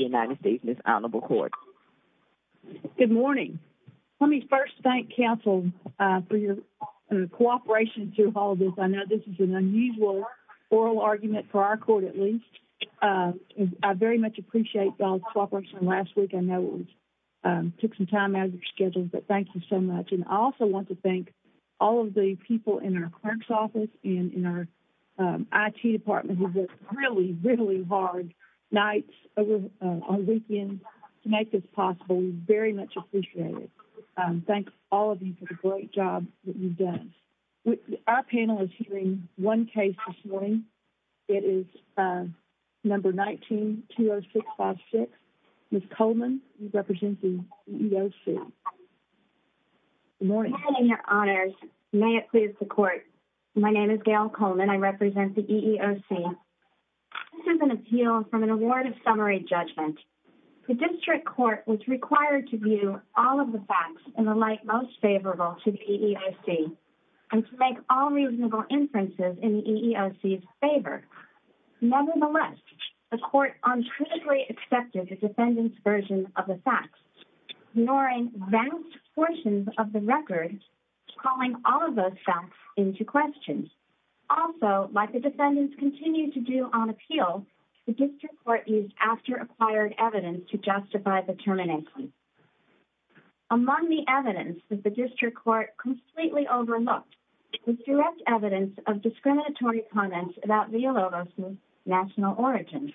United States Miss Honorable Court. Good morning. Let me first thank counsel for your cooperation through all of this. I know this is an unusual oral argument for our court, at least. I very much appreciate y'all's cooperation last week. I know it took some time out of your schedule, but thank you so much. And I also want to thank all of the people in our clerk's office and in our IT department who worked really, really hard nights over on weekends to make this possible. We very much appreciate it. Thank all of you for the great job that you've done. Our panel is hearing one case this morning. It is number 1920656. Ms. Coleman, you represent the EEOC. Good morning. Good morning, Your Honors. May it please the court. My name is Gail Coleman. I represent the EEOC. This is an appeal from an award of summary judgment. The district court was required to view all of the facts in the light most favorable to the EEOC and to make all reasonable inferences in the EEOC's favor. Nevertheless, the court uncritically accepted the defendant's version of the facts, ignoring vast portions of the record, calling all of those facts into question. Also, like the defendants continued to do on appeal, the district court used after-acquired evidence to justify the termination. Among the evidence was the district court completely overlooked with direct evidence of discriminatory comments about Villalobos' national origin.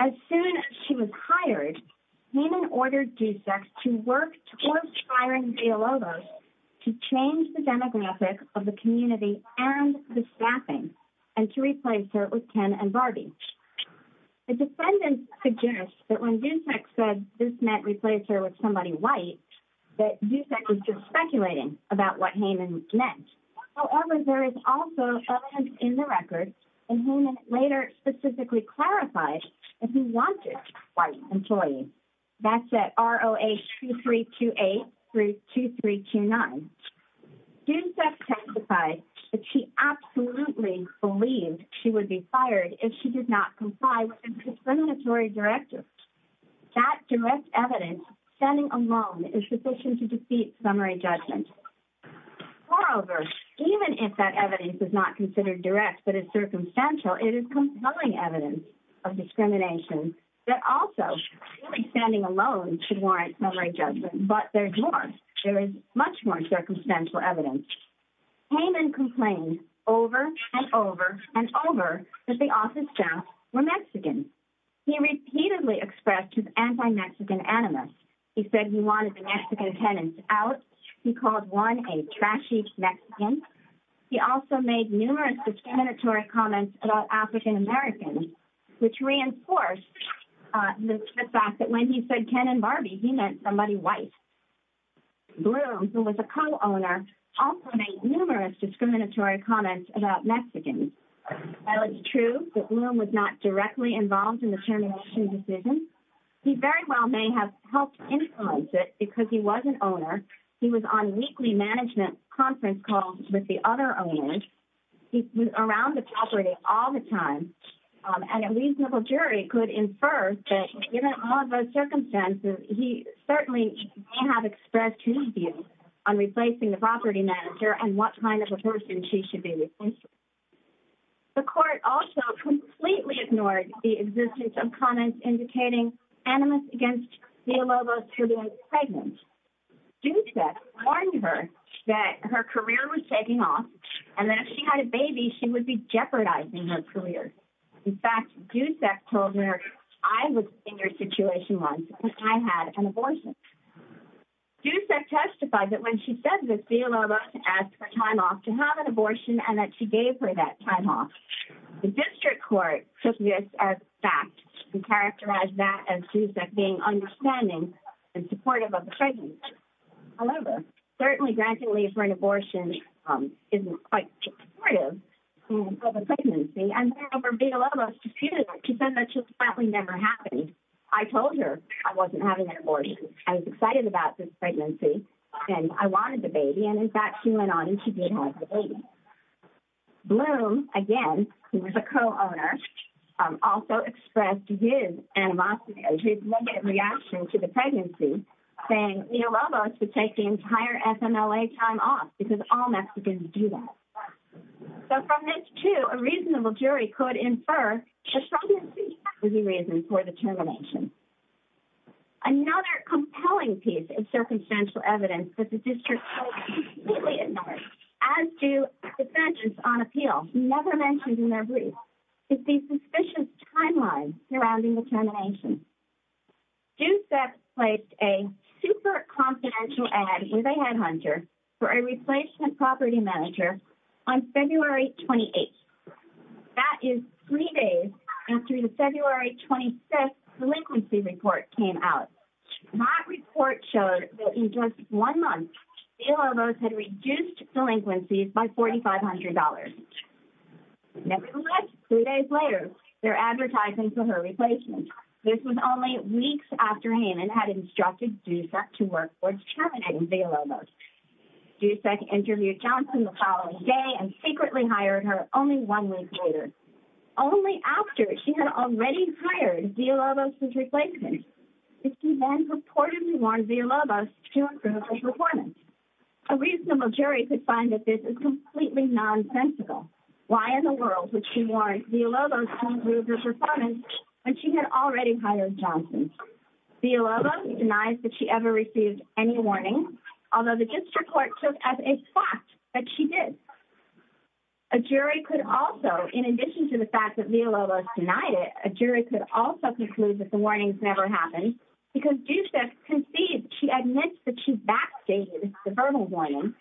As soon as she was hired, Heman ordered DUSEX to work towards firing Villalobos to change the demographic of the community and the staffing and to replace her with Ken and Barbie. The defendant suggests that when DUSEX said this meant replace her with somebody white, that DUSEX was just speculating about what Heman meant. However, there is also evidence in the record and Heman later specifically clarified that he wanted white employees. That's at ROA2328 2329. DUSEX testified that she absolutely believed she would be fired if she did not comply with the discriminatory directive. That direct evidence standing alone is sufficient to defeat summary judgment. Moreover, even if that evidence is not considered direct but is circumstantial, it is compelling evidence of discrimination that also standing alone should much more circumstantial evidence. Heman complained over and over and over that the office staff were Mexican. He repeatedly expressed his anti-Mexican animus. He said he wanted the Mexican tenants out. He called Juan a trashy Mexican. He also made numerous discriminatory comments about African Americans, which reinforced the fact that when he said Ken and Barbie, he meant somebody white. Bloom, who was a co-owner, also made numerous discriminatory comments about Mexicans. While it's true that Bloom was not directly involved in the termination decision, he very well may have helped influence it because he was an owner. He was on weekly management conference calls with the other owners. He was around the property all the time. And a reasonable jury could infer that given all of those circumstances, he certainly may have expressed his views on replacing the property manager and what kind of a person she should be replacing. The court also completely ignored the existence of comments indicating animus against Villalobos for being pregnant. Justice warned her that her career was taking off and that if she had a baby, she would be jeopardizing her career. In fact, Dusek told her, I was in your situation once because I had an abortion. Dusek testified that when she said this, Villalobos asked for time off to have an abortion and that she gave her that time off. The district court took this as fact and characterized that as Dusek being understanding and supportive of the pregnancy. However, certainly granting leave for an abortion isn't quite supportive of a pregnancy. And Villalobos disputed that. She said that just flatly never happened. I told her I wasn't having an abortion. I was excited about this pregnancy and I wanted the baby. And in fact, she went on to have the baby. Bloom, again, who was a co-owner, also expressed his animosity, his negative reaction to the pregnancy, saying Villalobos would take the entire FMLA time off because all Mexicans do that. So from this, too, a reasonable jury could infer the pregnancy was the reason for the termination. Another compelling piece of circumstantial evidence that the district court completely ignored, as do the judges on appeal, never mentioned in their brief, is the suspicious timeline surrounding the termination. Dusek placed a super confidential ad with a headhunter for a replacement property manager on February 28th. That is three days after the February 25th delinquency report came out. That report showed that in just one month Villalobos had reduced delinquencies by $4,500. Nevertheless, three days later, they're advertising for her replacement. This was only weeks after Haman had instructed Dusek to work towards terminating Villalobos. Dusek interviewed Johnson the following day and secretly hired her only one week later, only after she had already hired Villalobos's replacement. She then purportedly warned Villalobos to include her performance. A reasonable jury could find that this is completely nonsensical. Why in the world would she warn Villalobos to include her performance when she had already hired Johnson? Villalobos denies that she ever received any warning, although the district court took as a fact that she did. A jury could also, in addition to the fact that Villalobos denied it, a jury could also conclude that the warnings never happened because Dusek conceded she admits that she backstated the verbal warning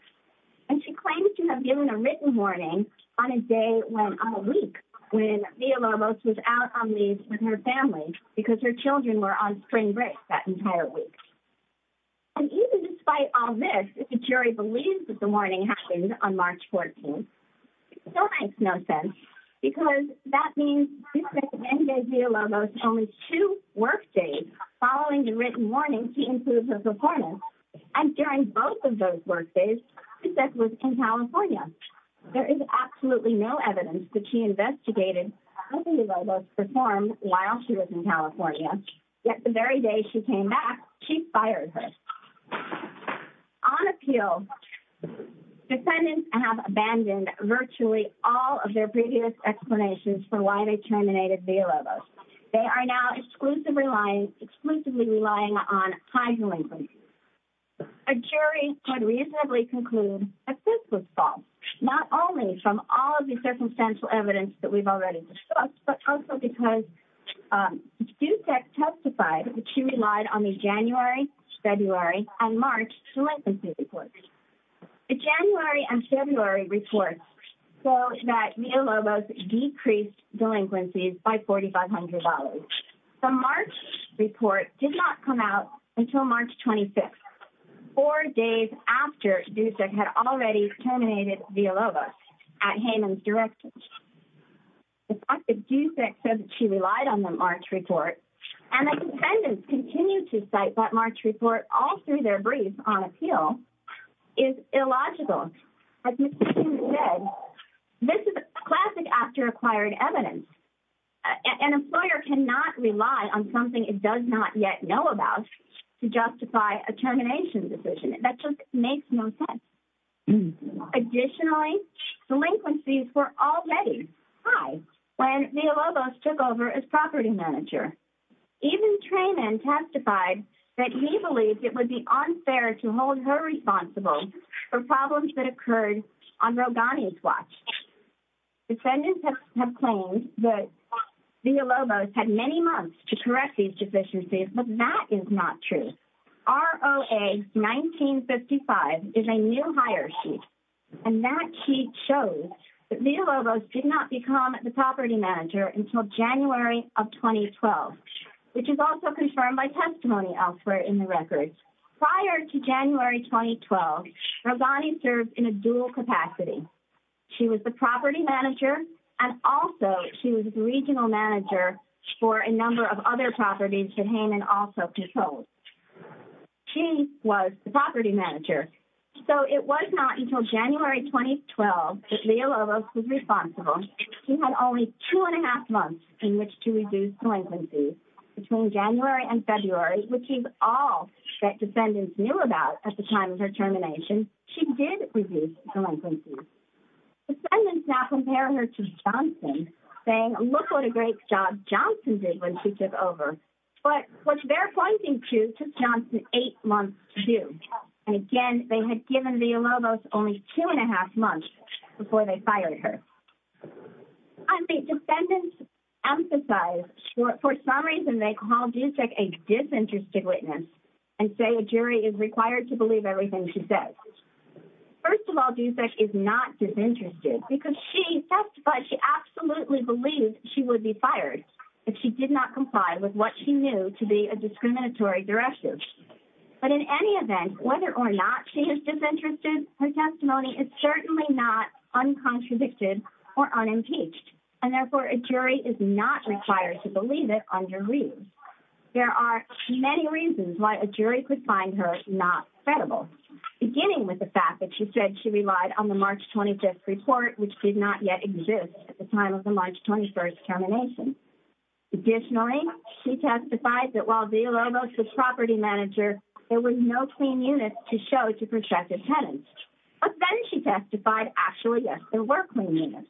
and she claims to have given a written warning on a day, on a week, when Villalobos was out on leave with her family because her children were on spring break that entire week. And even despite all this, if the jury believes that the warning happened on March 14th, it still makes no sense because that means Dusek then gave Villalobos only two work days following the written warning to include her performance. And during both of those work days, Dusek was in California. There is absolutely no evidence that she investigated how Villalobos performed while she was in California, yet the very day she came back, she fired her. On appeal, defendants have abandoned virtually all of their previous explanations for why they terminated Villalobos. They are now exclusively relying on time delinquency. A jury could reasonably conclude that this was false, not only from all of the circumstantial evidence that we've already discussed, but also because Dusek testified that she relied on the January, February, and March delinquency reports. The January and February reports show that Villalobos decreased delinquencies by $4,500. The March report did not come out until March 26th, four days after Dusek had already terminated Villalobos at Hayman's Detention Center. The fact that Dusek said that she relied on the March report and that defendants continue to cite that March report all through their brief on appeal is illogical. As you said, this is classic after-acquired evidence. An employer cannot rely on something it does not yet know about to justify a termination decision. That just makes no sense. Additionally, delinquencies were already high when Villalobos took over as property manager. Even Trayman testified that he believes it would be unfair to hold her responsible for problems that occurred on Rogani's watch. Defendants have claimed that Villalobos had many months to correct these deficiencies, but that is not true. ROA-1955 is a new hire sheet, and that sheet shows that Villalobos did not become the property manager until January of 2012, which is also confirmed by testimony elsewhere in the record. Prior to January 2012, Rogani served in a dual capacity. She was the property manager and also she was regional manager for a number of other properties that Hayman also controlled. She was the property manager, so it was not until January 2012 that Villalobos was responsible. She had only two and a half months in which to reduce delinquencies. Between January and February, which is all that defendants knew about at the time of her termination, she did reduce delinquencies. Defendants now compare her to Johnson, saying, look what a great job Johnson did when she took over. But what they're pointing to is Johnson's eight months to do. And again, they had given Villalobos only two and a half months before they fired her. Defendants emphasize, for some reason they call Dusek a disinterested witness and say a jury is required to believe everything she says. First of all, Dusek is not disinterested because she testified she absolutely believed she would be fired if she did not comply with what she knew to be a discriminatory directive. But in any event, whether or not she is disinterested, her testimony is certainly not uncontradicted or unimpeached. And therefore, a jury is not required to believe it under Reed. There are many reasons why a jury could find her not credible, beginning with the fact that she relied on the March 25th report, which did not yet exist at the time of the March 21st termination. Additionally, she testified that while Villalobos was property manager, there were no clean units to show to protective tenants. But then she testified, actually, yes, there were clean units.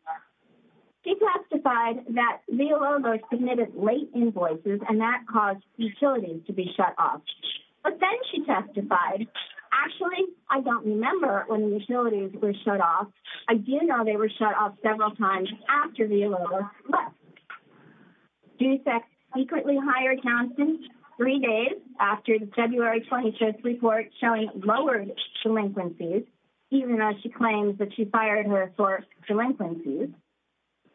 She testified that Villalobos submitted late invoices and that caused utilities to be shut off. But then she testified, actually, I don't remember when the utilities were shut off. I do know they were shut off several times after Villalobos left. Dusek secretly hired Johnson three days after the February 25th report showing lowered delinquencies, even though she claims that she fired her for delinquencies.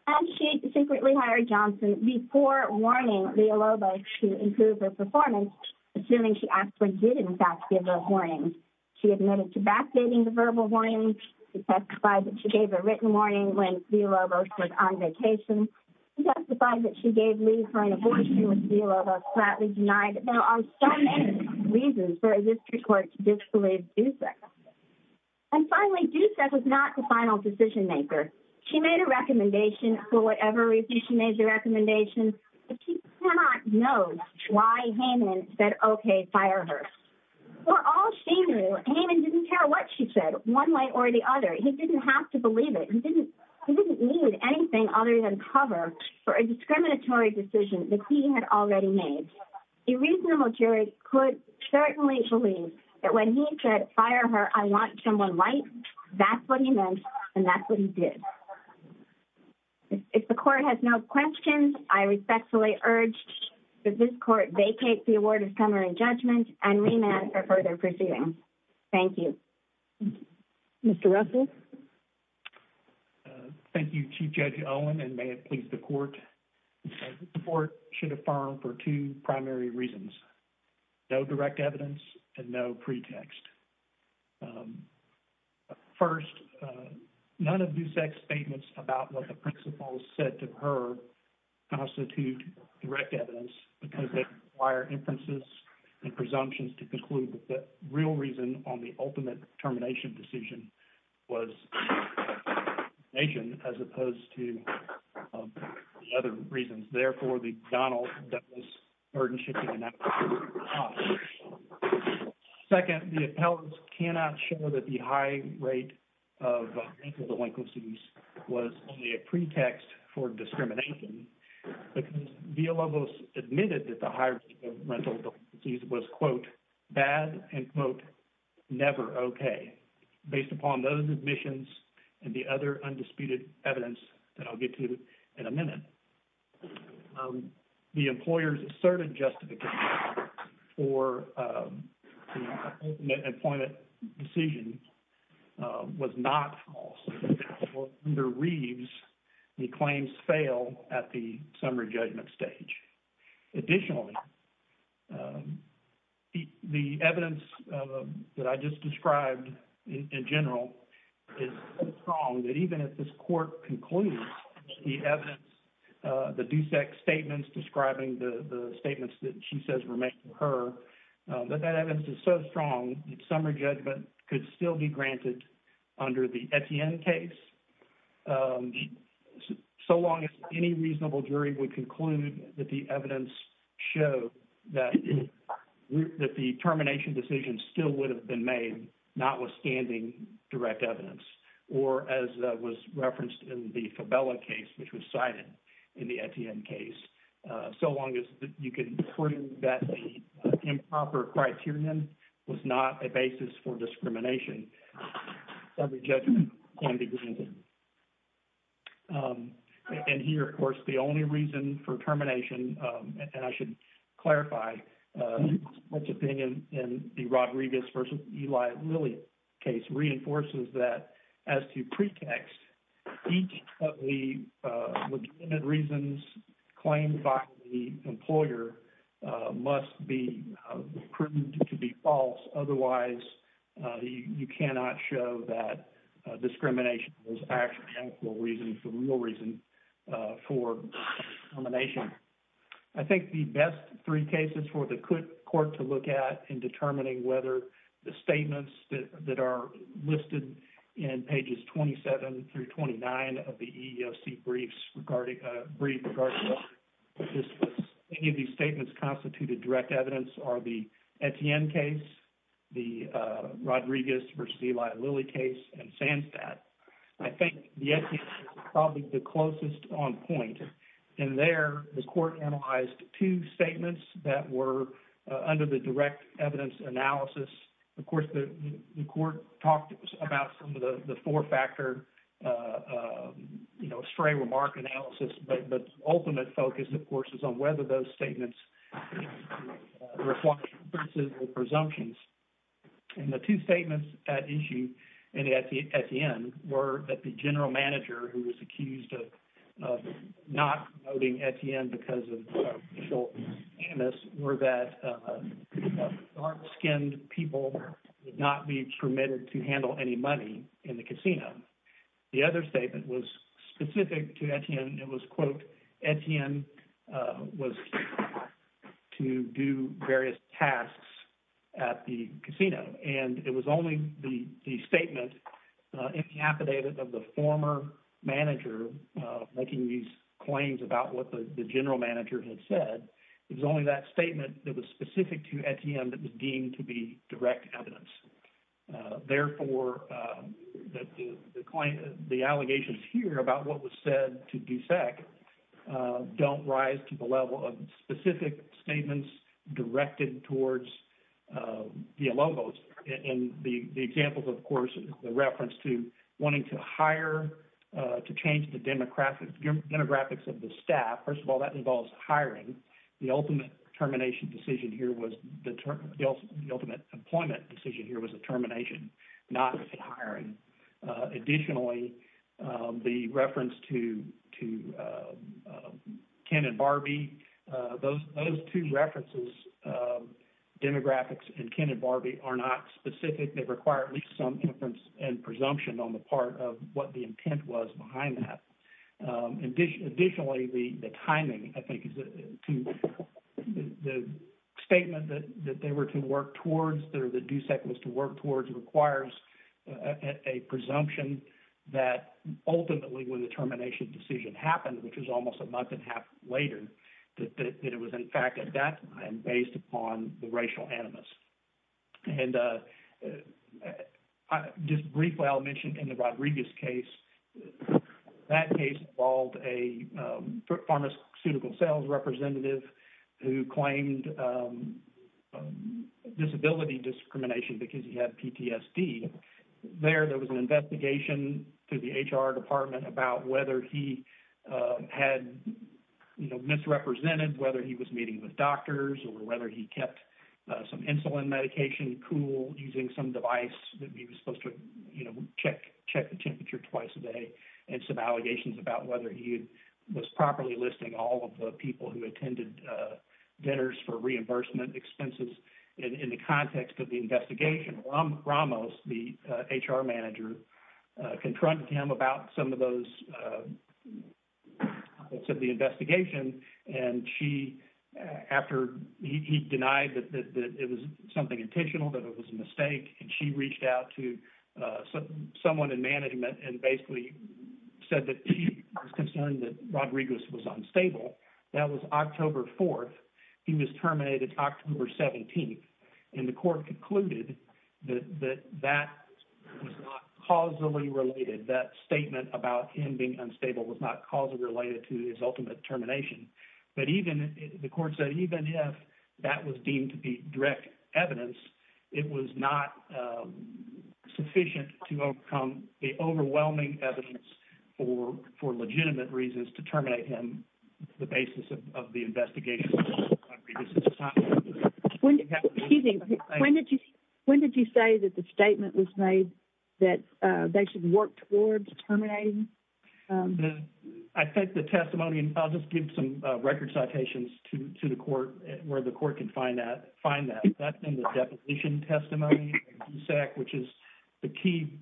And she secretly hired Johnson before warning Villalobos to improve her performance, assuming she actually did, in fact, give a warning. She admitted to backdating the verbal warning. She testified that she gave a written warning when Villalobos was on vacation. She testified that she gave Lee her an abortion when Villalobos flatly denied it. There are so many reasons for a district court to disbelieve Dusek. And finally, Dusek was not the final decision maker. She made a recommendation for whatever reason she made the recommendation, but she cannot know why Heyman said, okay, fire her. For all she knew, Heyman didn't care what she said one way or the other. He didn't have to believe it. He didn't need anything other than cover for a discriminatory decision that he had already made. A reasonable jury could certainly believe that when he said, fire her, I want someone white, that's what he meant and that's what he did. If the court has no questions, I respectfully urge that this court vacate the award of summary judgment and remand for further proceedings. Thank you. Mr. Russell. Thank you, Chief Judge Owen, and may it please the court. The court should affirm for two primary reasons, no direct evidence and no pretext. First, none of Dusek's statements about what the principal said to her constitute direct evidence because they require inferences and presumptions to conclude that the real reason on the ultimate termination decision was as opposed to the other two. Second, the appellants cannot show that the high rate of mental delinquencies was only a pretext for discrimination because Villalobos admitted that the high rate of mental disease was, quote, bad and, quote, never okay. Based upon those admissions and the other undisputed evidence that I'll get to in a minute, the employer's asserted justification for the appointment decision was not false. Under Reeves, the claims fail at the summary judgment stage. Additionally, the evidence that I just described in general is so strong that even if this court concludes the evidence, the Dusek statements describing the statements that she says were made to her, that evidence is so strong that summary judgment could still be granted under the Etienne case so long as any reasonable jury would conclude that the evidence showed that the termination decision still would have been made notwithstanding direct evidence or as was in the Fabella case, which was cited in the Etienne case, so long as you can prove that the improper criterion was not a basis for discrimination, summary judgment can be granted. And here, of course, the only reason for termination, and I should clarify, what's at the end in the Rodriguez versus Eli Lilly case reinforces that as to pretext, each of the legitimate reasons claimed by the employer must be proved to be false. Otherwise, you cannot show that discrimination was actually a real reason for termination. I think the best three cases for the court to look at in determining whether the statements that are listed in pages 27 through 29 of the EEOC briefs regarding any of these statements constituted direct evidence are the Etienne case, the Rodriguez versus Eli Lilly case, and Sandstat. I think the Etienne case is probably the closest on point. In there, the court analyzed two statements that were under the direct evidence analysis. Of course, the court talked about some of the four-factor, you know, stray remark analysis, but the ultimate focus, of course, is on whether those statements reflect reasonable presumptions. And the two Etienne were that the general manager who was accused of not promoting Etienne because of animus were that dark-skinned people would not be permitted to handle any money in the casino. The other statement was specific to Etienne. It was, quote, Etienne was to do various tasks at the casino. And it was only the statement in the affidavit of the former manager making these claims about what the general manager had said, it was only that statement that was specific to Etienne that was deemed to be direct evidence. Therefore, the allegations here about what was the logos. And the examples, of course, the reference to wanting to hire to change the demographics of the staff, first of all, that involves hiring. The ultimate termination decision here was the ultimate employment decision here was the termination, not the hiring. Additionally, the reference to Ken and Barbie, those two references, demographics and Ken and Barbie, are not specific. They require at least some inference and presumption on the part of what the intent was behind that. Additionally, the timing, I think, the statement that they were to work towards, that DUSEC was to work towards, requires a presumption that ultimately when the termination decision happened, which was almost a month and a half later, that it was in fact at that time based upon the racial animus. And just briefly, I'll mention in the Rodriguez case, that case involved a pharmaceutical sales representative who claimed disability discrimination because he had PTSD. There, there was an investigation to the HR department about whether he had misrepresented, whether he was meeting with doctors or whether he kept some insulin medication cool using some device that he was supposed to check the temperature twice a day, and some allegations about whether he was properly listing all of the people who attended dinners for reimbursement expenses. In the context of the investigation, Ramos, the HR manager, confronted him about some of those, said the investigation, and she, after he denied that it was something intentional, that it was a mistake, and she reached out to someone in management and basically said that she was concerned that Rodriguez was unstable. That was October 4th. He was terminated October 17th, and the court concluded that that was not causally related. That statement about him being unstable was not causally related to his ultimate termination. But even, the court said, even if that was deemed to be direct evidence, it was not sufficient to overcome the overwhelming evidence for, for legitimate reasons to terminate him, the basis of the investigation. Excuse me, when did you, when did you say that the statement was made that they should work towards terminating? The, I think the testimony, and I'll just give some record citations to, to the court, where the court can find that, find that. That's in the deposition testimony, which is, the key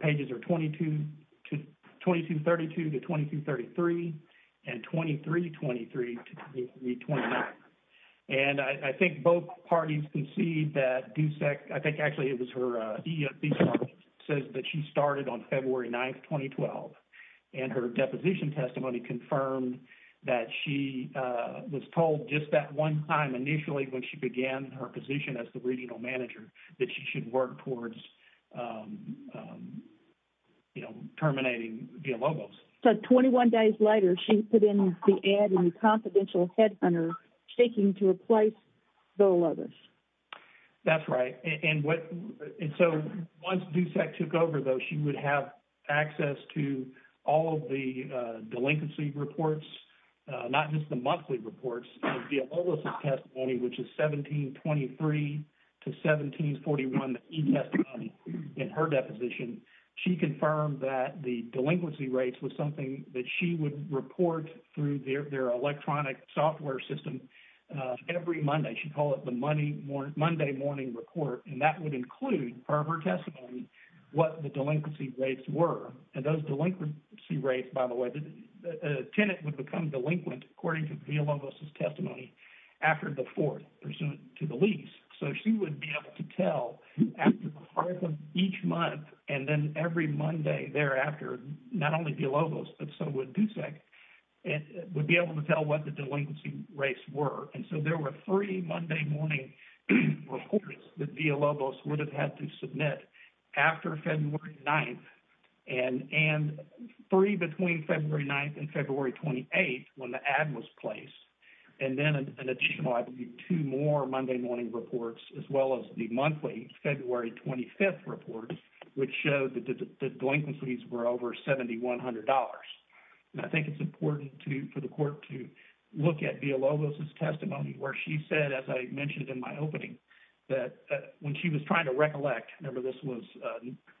pages are 22 to, 2232 to 2233, and 2323 to 2329. And I think both parties can see that Dusek, I think actually it was her, says that she started on February 9th, 2012, and her deposition testimony confirmed that she was told just that one time, initially, when she began her position as the regional manager, that she should work towards, you know, terminating Villalobos. So 21 days later, she put in the ad in Confidential Headhunter, seeking to replace Villalobos. That's right. And what, and so once Dusek took over, though, she would have access to all of the delinquency reports, not just the monthly reports, of Villalobos' testimony, which is 1723 to 1741, the e-testimony in her deposition. She confirmed that the delinquency rates was something that she would report through their electronic software system every Monday. She'd call it the Monday morning report, and that would include, per her testimony, what the delinquency rates were. And those delinquency rates, by the way, the tenant would become delinquent, according to Villalobos' testimony, after the fourth, pursuant to the lease. So she would be able to tell after the heart of each month, and then every Monday thereafter, not only Villalobos, but so would Dusek, would be able to tell what the delinquency rates were. And so there were three Monday morning reports that Villalobos would have had to submit after February 9th, and three between February 9th and February 28th, when the ad was placed. And then an additional, I believe, two more Monday morning reports, as well as the monthly February 25th report, which showed that the delinquencies were over $7,100. And I think it's important for the court to look at Villalobos' testimony, where she said, as I mentioned in my opening, that when she was trying to recollect, remember this was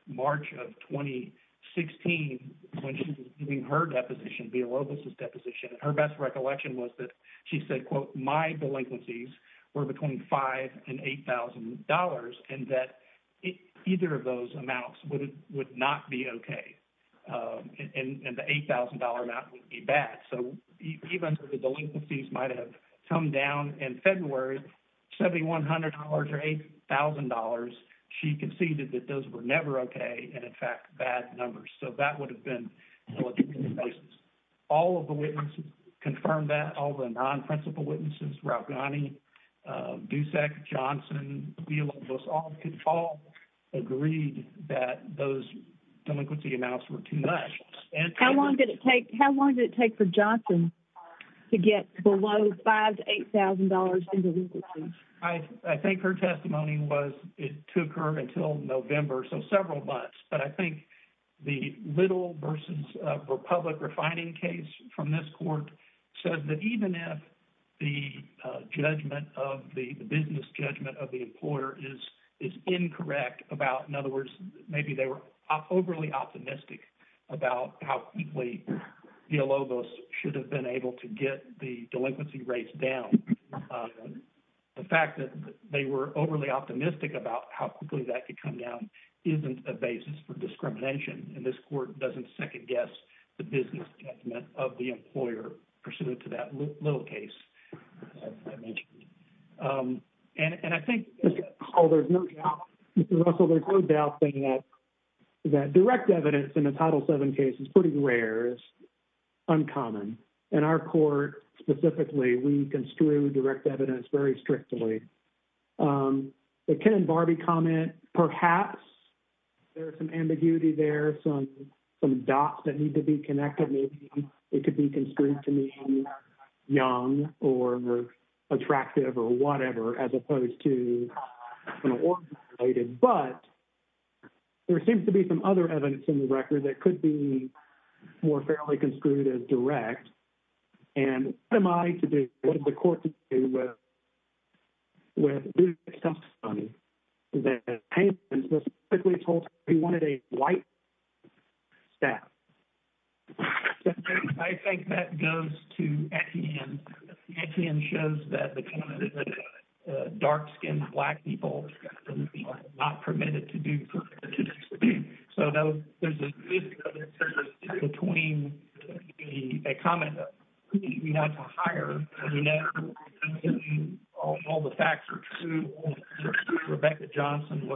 March of 2016, when she was giving her deposition, Villalobos' deposition, her best recollection was that she said, quote, my delinquencies were between $5,000 and $8,000, and that either of those amounts would not be okay. And the $8,000 amount would be bad. So even if the delinquencies might have come down in February, $7,100 or $8,000, she conceded that those were never okay, and in fact, bad numbers. So that would have been the case. All of the witnesses confirmed that, all the non-principal witnesses, Raoghani, Dusak, Johnson, Villalobos, all agreed that those delinquency amounts were too much. How long did it take for Johnson to get below $5,000 to $8,000 in delinquency? I think her testimony was, it took her until November, so several months. But I think the Little v. Republic refining case from this court says that even if the judgment of the business judgment of the employer is incorrect about, in other words, maybe they were overly optimistic about how quickly Villalobos should have been able to get the delinquency rates down, the fact that they were overly optimistic about how quickly that could come down isn't a basis for discrimination, and this court doesn't second-guess the business judgment of the employer pursuant to that Little case I mentioned. And I think... Oh, there's no doubt, Mr. Russell, there's no doubt that direct evidence in the Title VII case is pretty rare, it's uncommon. In our court specifically, we construe direct evidence very rarely. There's some ambiguity there, some dots that need to be connected, maybe it could be construed to mean young or attractive or whatever, as opposed to an organization-related. But there seems to be some other evidence in the record that could be more fairly construed as direct. And what am I to do, what does the court do with something that the plaintiff was quickly told he wanted a white staff? I think that goes to Etienne. Etienne shows that dark-skinned Black people are not permitted to do... So there's a difference between a comment that we want to hire, you know, all the facts are true, Rebecca Johnson,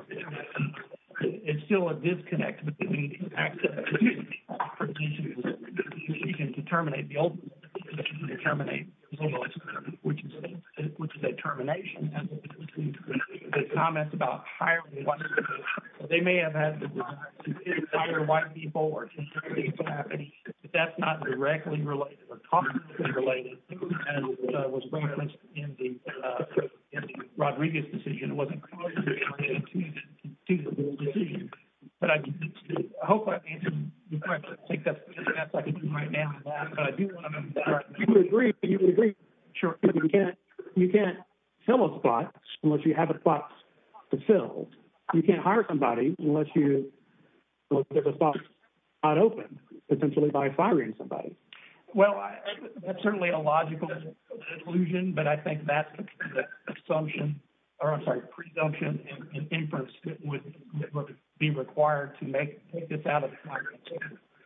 it's still a disconnect between the facts of the case. You can determine the old one, which is a termination, and the comments about hiring white people, they may have had the desire to hire white people, but that's not directly related or commentally related, and was referenced in the Rodriguez decision, it wasn't... But I hope I've answered your question. I think that's all I can do right now, but I do want to move on. You can agree, but you can't fill a spot unless you have a spot to fill. You can't hire somebody unless there's a spot not open, potentially by firing somebody. Well, that's certainly a logical conclusion, but I think that's the assumption, or I'm sorry, presumption and inference that would be required to make this out of the context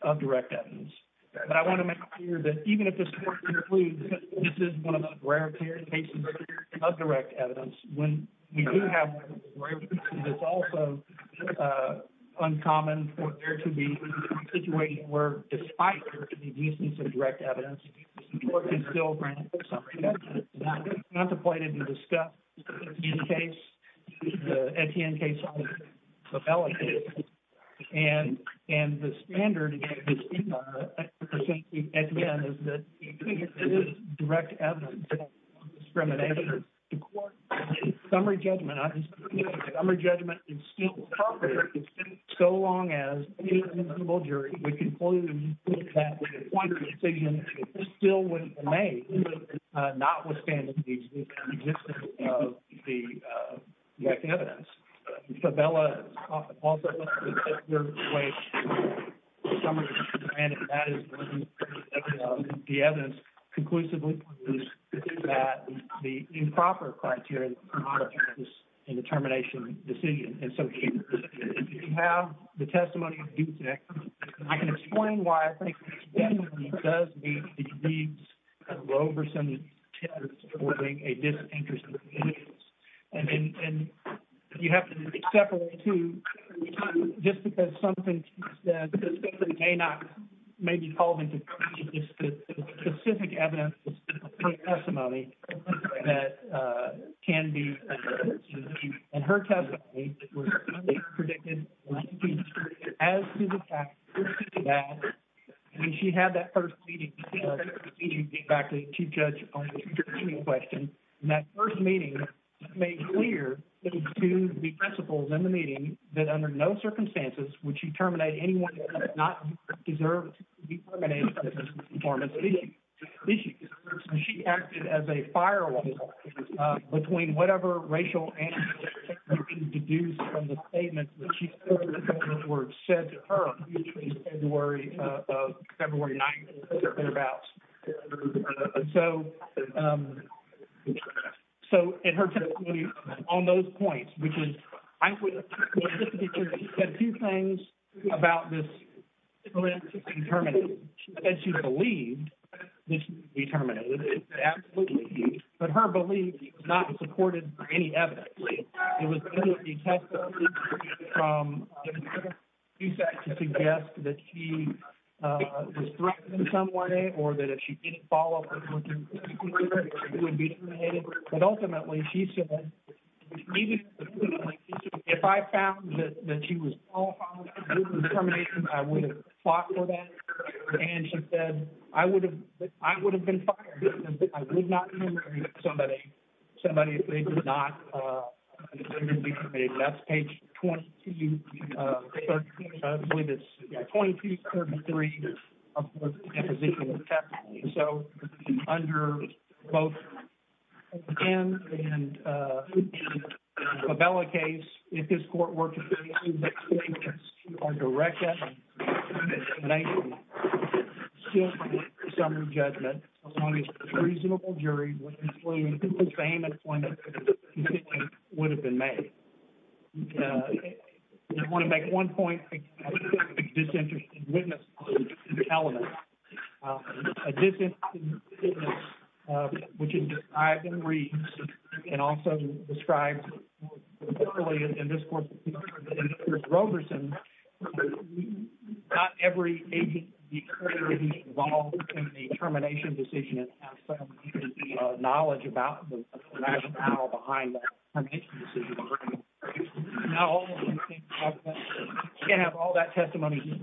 of direct evidence. But I want to make clear that even if this court concludes that this is one of those rare cases of direct evidence, when you do have one of those rare cases, it's also uncommon for there to be a situation where, despite there to be reasons for direct evidence, the court can still grant a summary judgment. It's not the point of the discussion case, the Etienne case, or the Fevella case. And the standard, again, to speak on that, I think Etienne is that it is direct evidence on discrimination. The court can give a summary judgment. A summary judgment is still appropriate so long as the indivisible jury would conclude that with a point of decision, it still wouldn't be made, notwithstanding the existence of the direct evidence. Fevella is often also considered in a way a summary judgment, and that is when the evidence conclusively produces that the improper criteria for auditing this indetermination decision is so huge. If you have the testimony of Dupnick, I can explain why I think this testimony does meet the needs of Roverson's test for being a disinterested witness. And you have to separate the two, just because something she said may not maybe fall into the specific evidence of her testimony that can be. And her testimony was predicted as to the fact that when she had that first meeting with Chief Judge on the interdiction question, and that first meeting made clear to the principals in the meeting that under no circumstances would she terminate anyone who does not deserve to be terminated. She acted as a firewall between whatever racial and ethnicities were being deduced from the statements that were said to her between February 9th and about. So, in her testimony on those points, which is, I would say a few things about this indeterminacy. She said she believed this would be terminated. She said absolutely. But her belief was not supported by any evidence. It was only a testimony from she said to suggest that she was threatened in some way, or that if she didn't follow up, she would be terminated. But ultimately, she said, if I found that she was all determined, I would have fought for that. And she said, I would have, I would have been fired. I would not have terminated somebody, somebody if they did not. That's page 22. I believe it's 2233. So, under both and a Bella case, if this court were to direct judgment, reasonable jury would have been made. I want to make one point. A disinterested witness, which is described in Reeves, and also described in this court, in Robertson, not every agent would be involved in the termination decision and have some knowledge about the rationale behind that termination decision. You can't have all that testimony.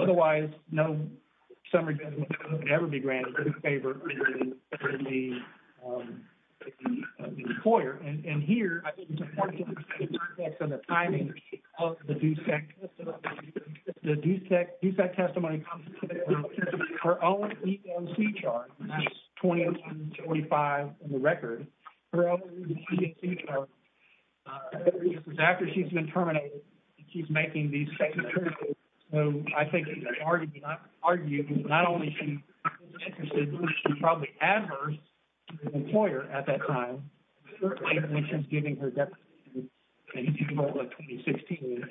Otherwise, no summary judgment would ever be granted in favor of the employer. And here, I think it's important to understand the timing of the her own EEOC charge, and that's 2225 in the record, her own EEOC charge. After she's been terminated, she's making these second terms. So, I think it's hard to argue that not only is she probably adverse to the employer at that time, when she's giving her testimony in June of 2016.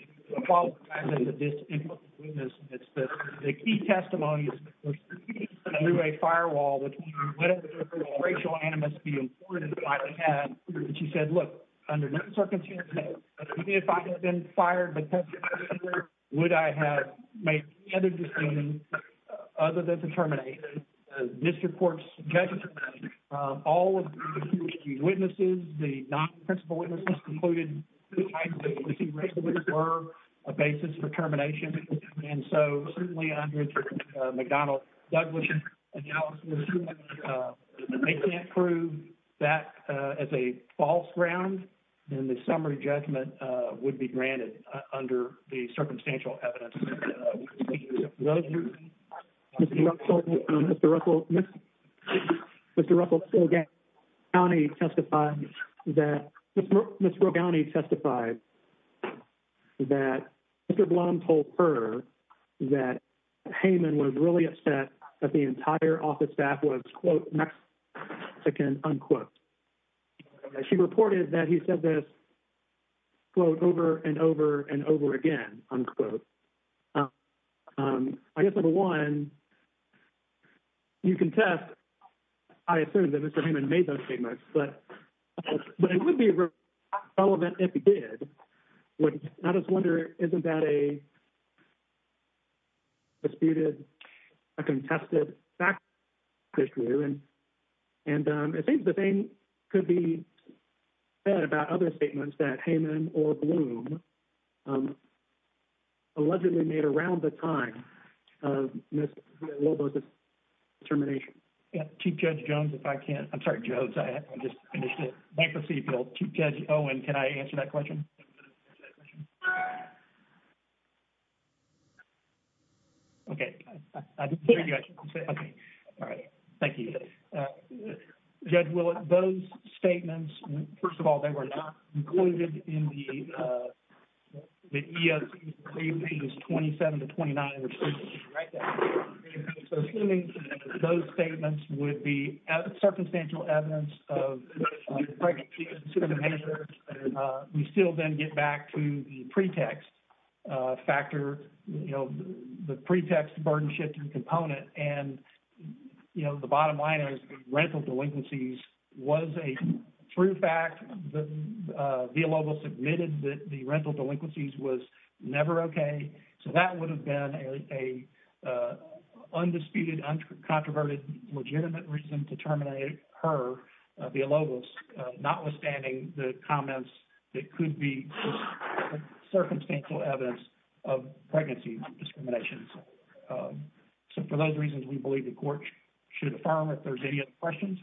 The key testimony is through a firewall between whatever racial animus she said, look, if I had been fired, would I have made other decisions other than to terminate? This court's judgment, all of the witnesses, the non-principal witnesses concluded were a basis for termination. And so, certainly under McDonnell-Douglas analysis, they can't prove that as a false ground, then the summary judgment would be granted under the circumstantial evidence. Mr. Russell Rogani testified that Mr. Blum told her that Heyman was really upset that the entire office staff was, quote, Mexican, unquote. She reported that he said this, quote, over and over and over again, unquote. I guess, number one, you can test, I assume that Mr. Heyman made those statements, but it would be relevant if he did. I just wonder, isn't that a disputed, a contested fact and it seems the same could be said about other statements that Heyman or Blum allegedly made around the time of Ms. Robo's termination. Chief Judge Jones, if I can, I'm sorry, Jones, I just finished it, bankruptcy appeal. Chief Judge Owen, can I answer that question? Okay. All right. Thank you. Judge Willett, those statements, first of all, they were not included in the EEOC. Those statements would be circumstantial evidence of we still then get back to the pretext factor, the pretext burden-shifting component. And the bottom line is rental delinquencies was a true fact. Villalobos admitted that the rental delinquencies was never okay. So that would have been a undisputed, uncontroverted, legitimate reason to terminate her, Villalobos, notwithstanding the comments that could be circumstantial evidence of pregnancy discriminations. So for those reasons, we believe the court should affirm if there's any other questions.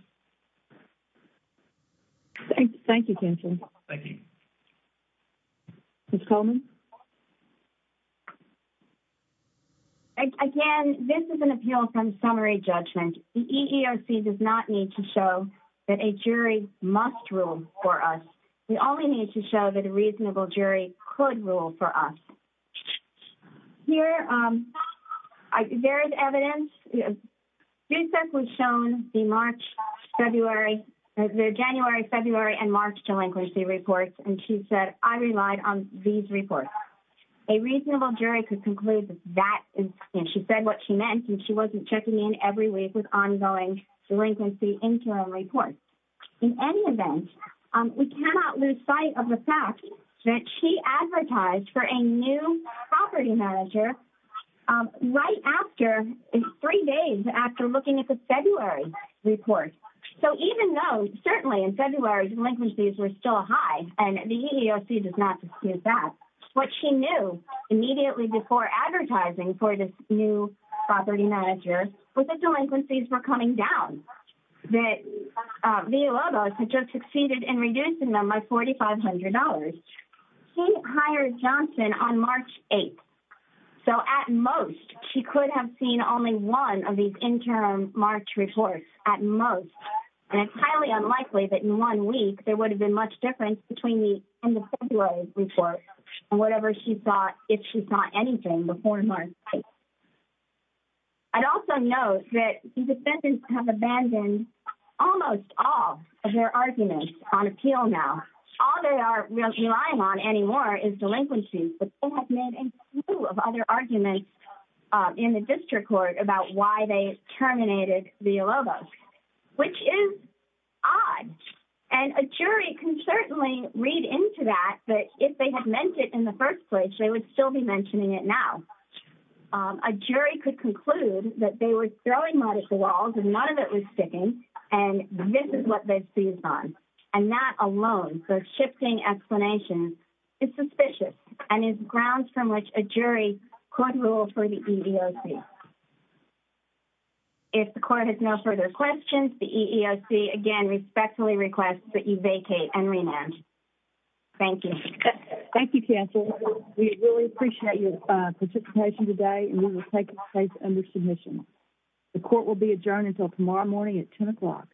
Thank you, counsel. Thank you. Ms. Coleman. Again, this is an appeal from summary judgment. The EEOC does not need to show that a jury must rule for us. We only need to show that a reasonable jury could rule for us. Here, there is evidence. This was shown in the January, February, and March delinquency reports, and she said, I relied on these reports. A reasonable jury could conclude that she said what she meant, and she wasn't checking in every week with ongoing delinquency interim reports. In any event, we cannot lose sight of the fact that she advertised for a new property manager right after three days after looking at the February report. So even though certainly in February delinquencies were still high, and the EEOC does not dispute that, what she knew immediately before advertising for this new property manager was that delinquencies were coming down, that the EEOC had just succeeded in reducing them by $4,500. She hired Johnson on March 8th. So at most, she could have seen only one of these interim March reports at most, and it's highly unlikely that in one week, there would have been much difference between the in the February report and whatever she saw, if she saw anything before March 8th. I'd also note that the defendants have abandoned almost all of their arguments on appeal now. All they are relying on anymore is delinquency, but they have made a slew of other arguments in the district court about why they terminated the ELOBO, which is odd, and a jury can certainly read into that that if they had meant it in the first place, they would still be mentioning it now. A jury could conclude that they were throwing mud at the walls and none of it was sticking, and this is what they've seized on, and that alone, the shifting explanation is suspicious and is grounds from which a jury could rule for the EEOC. If the court has no further questions, the EEOC again respectfully requests that you vacate and we will take it under submission. The court will be adjourned until tomorrow morning at 10 o'clock.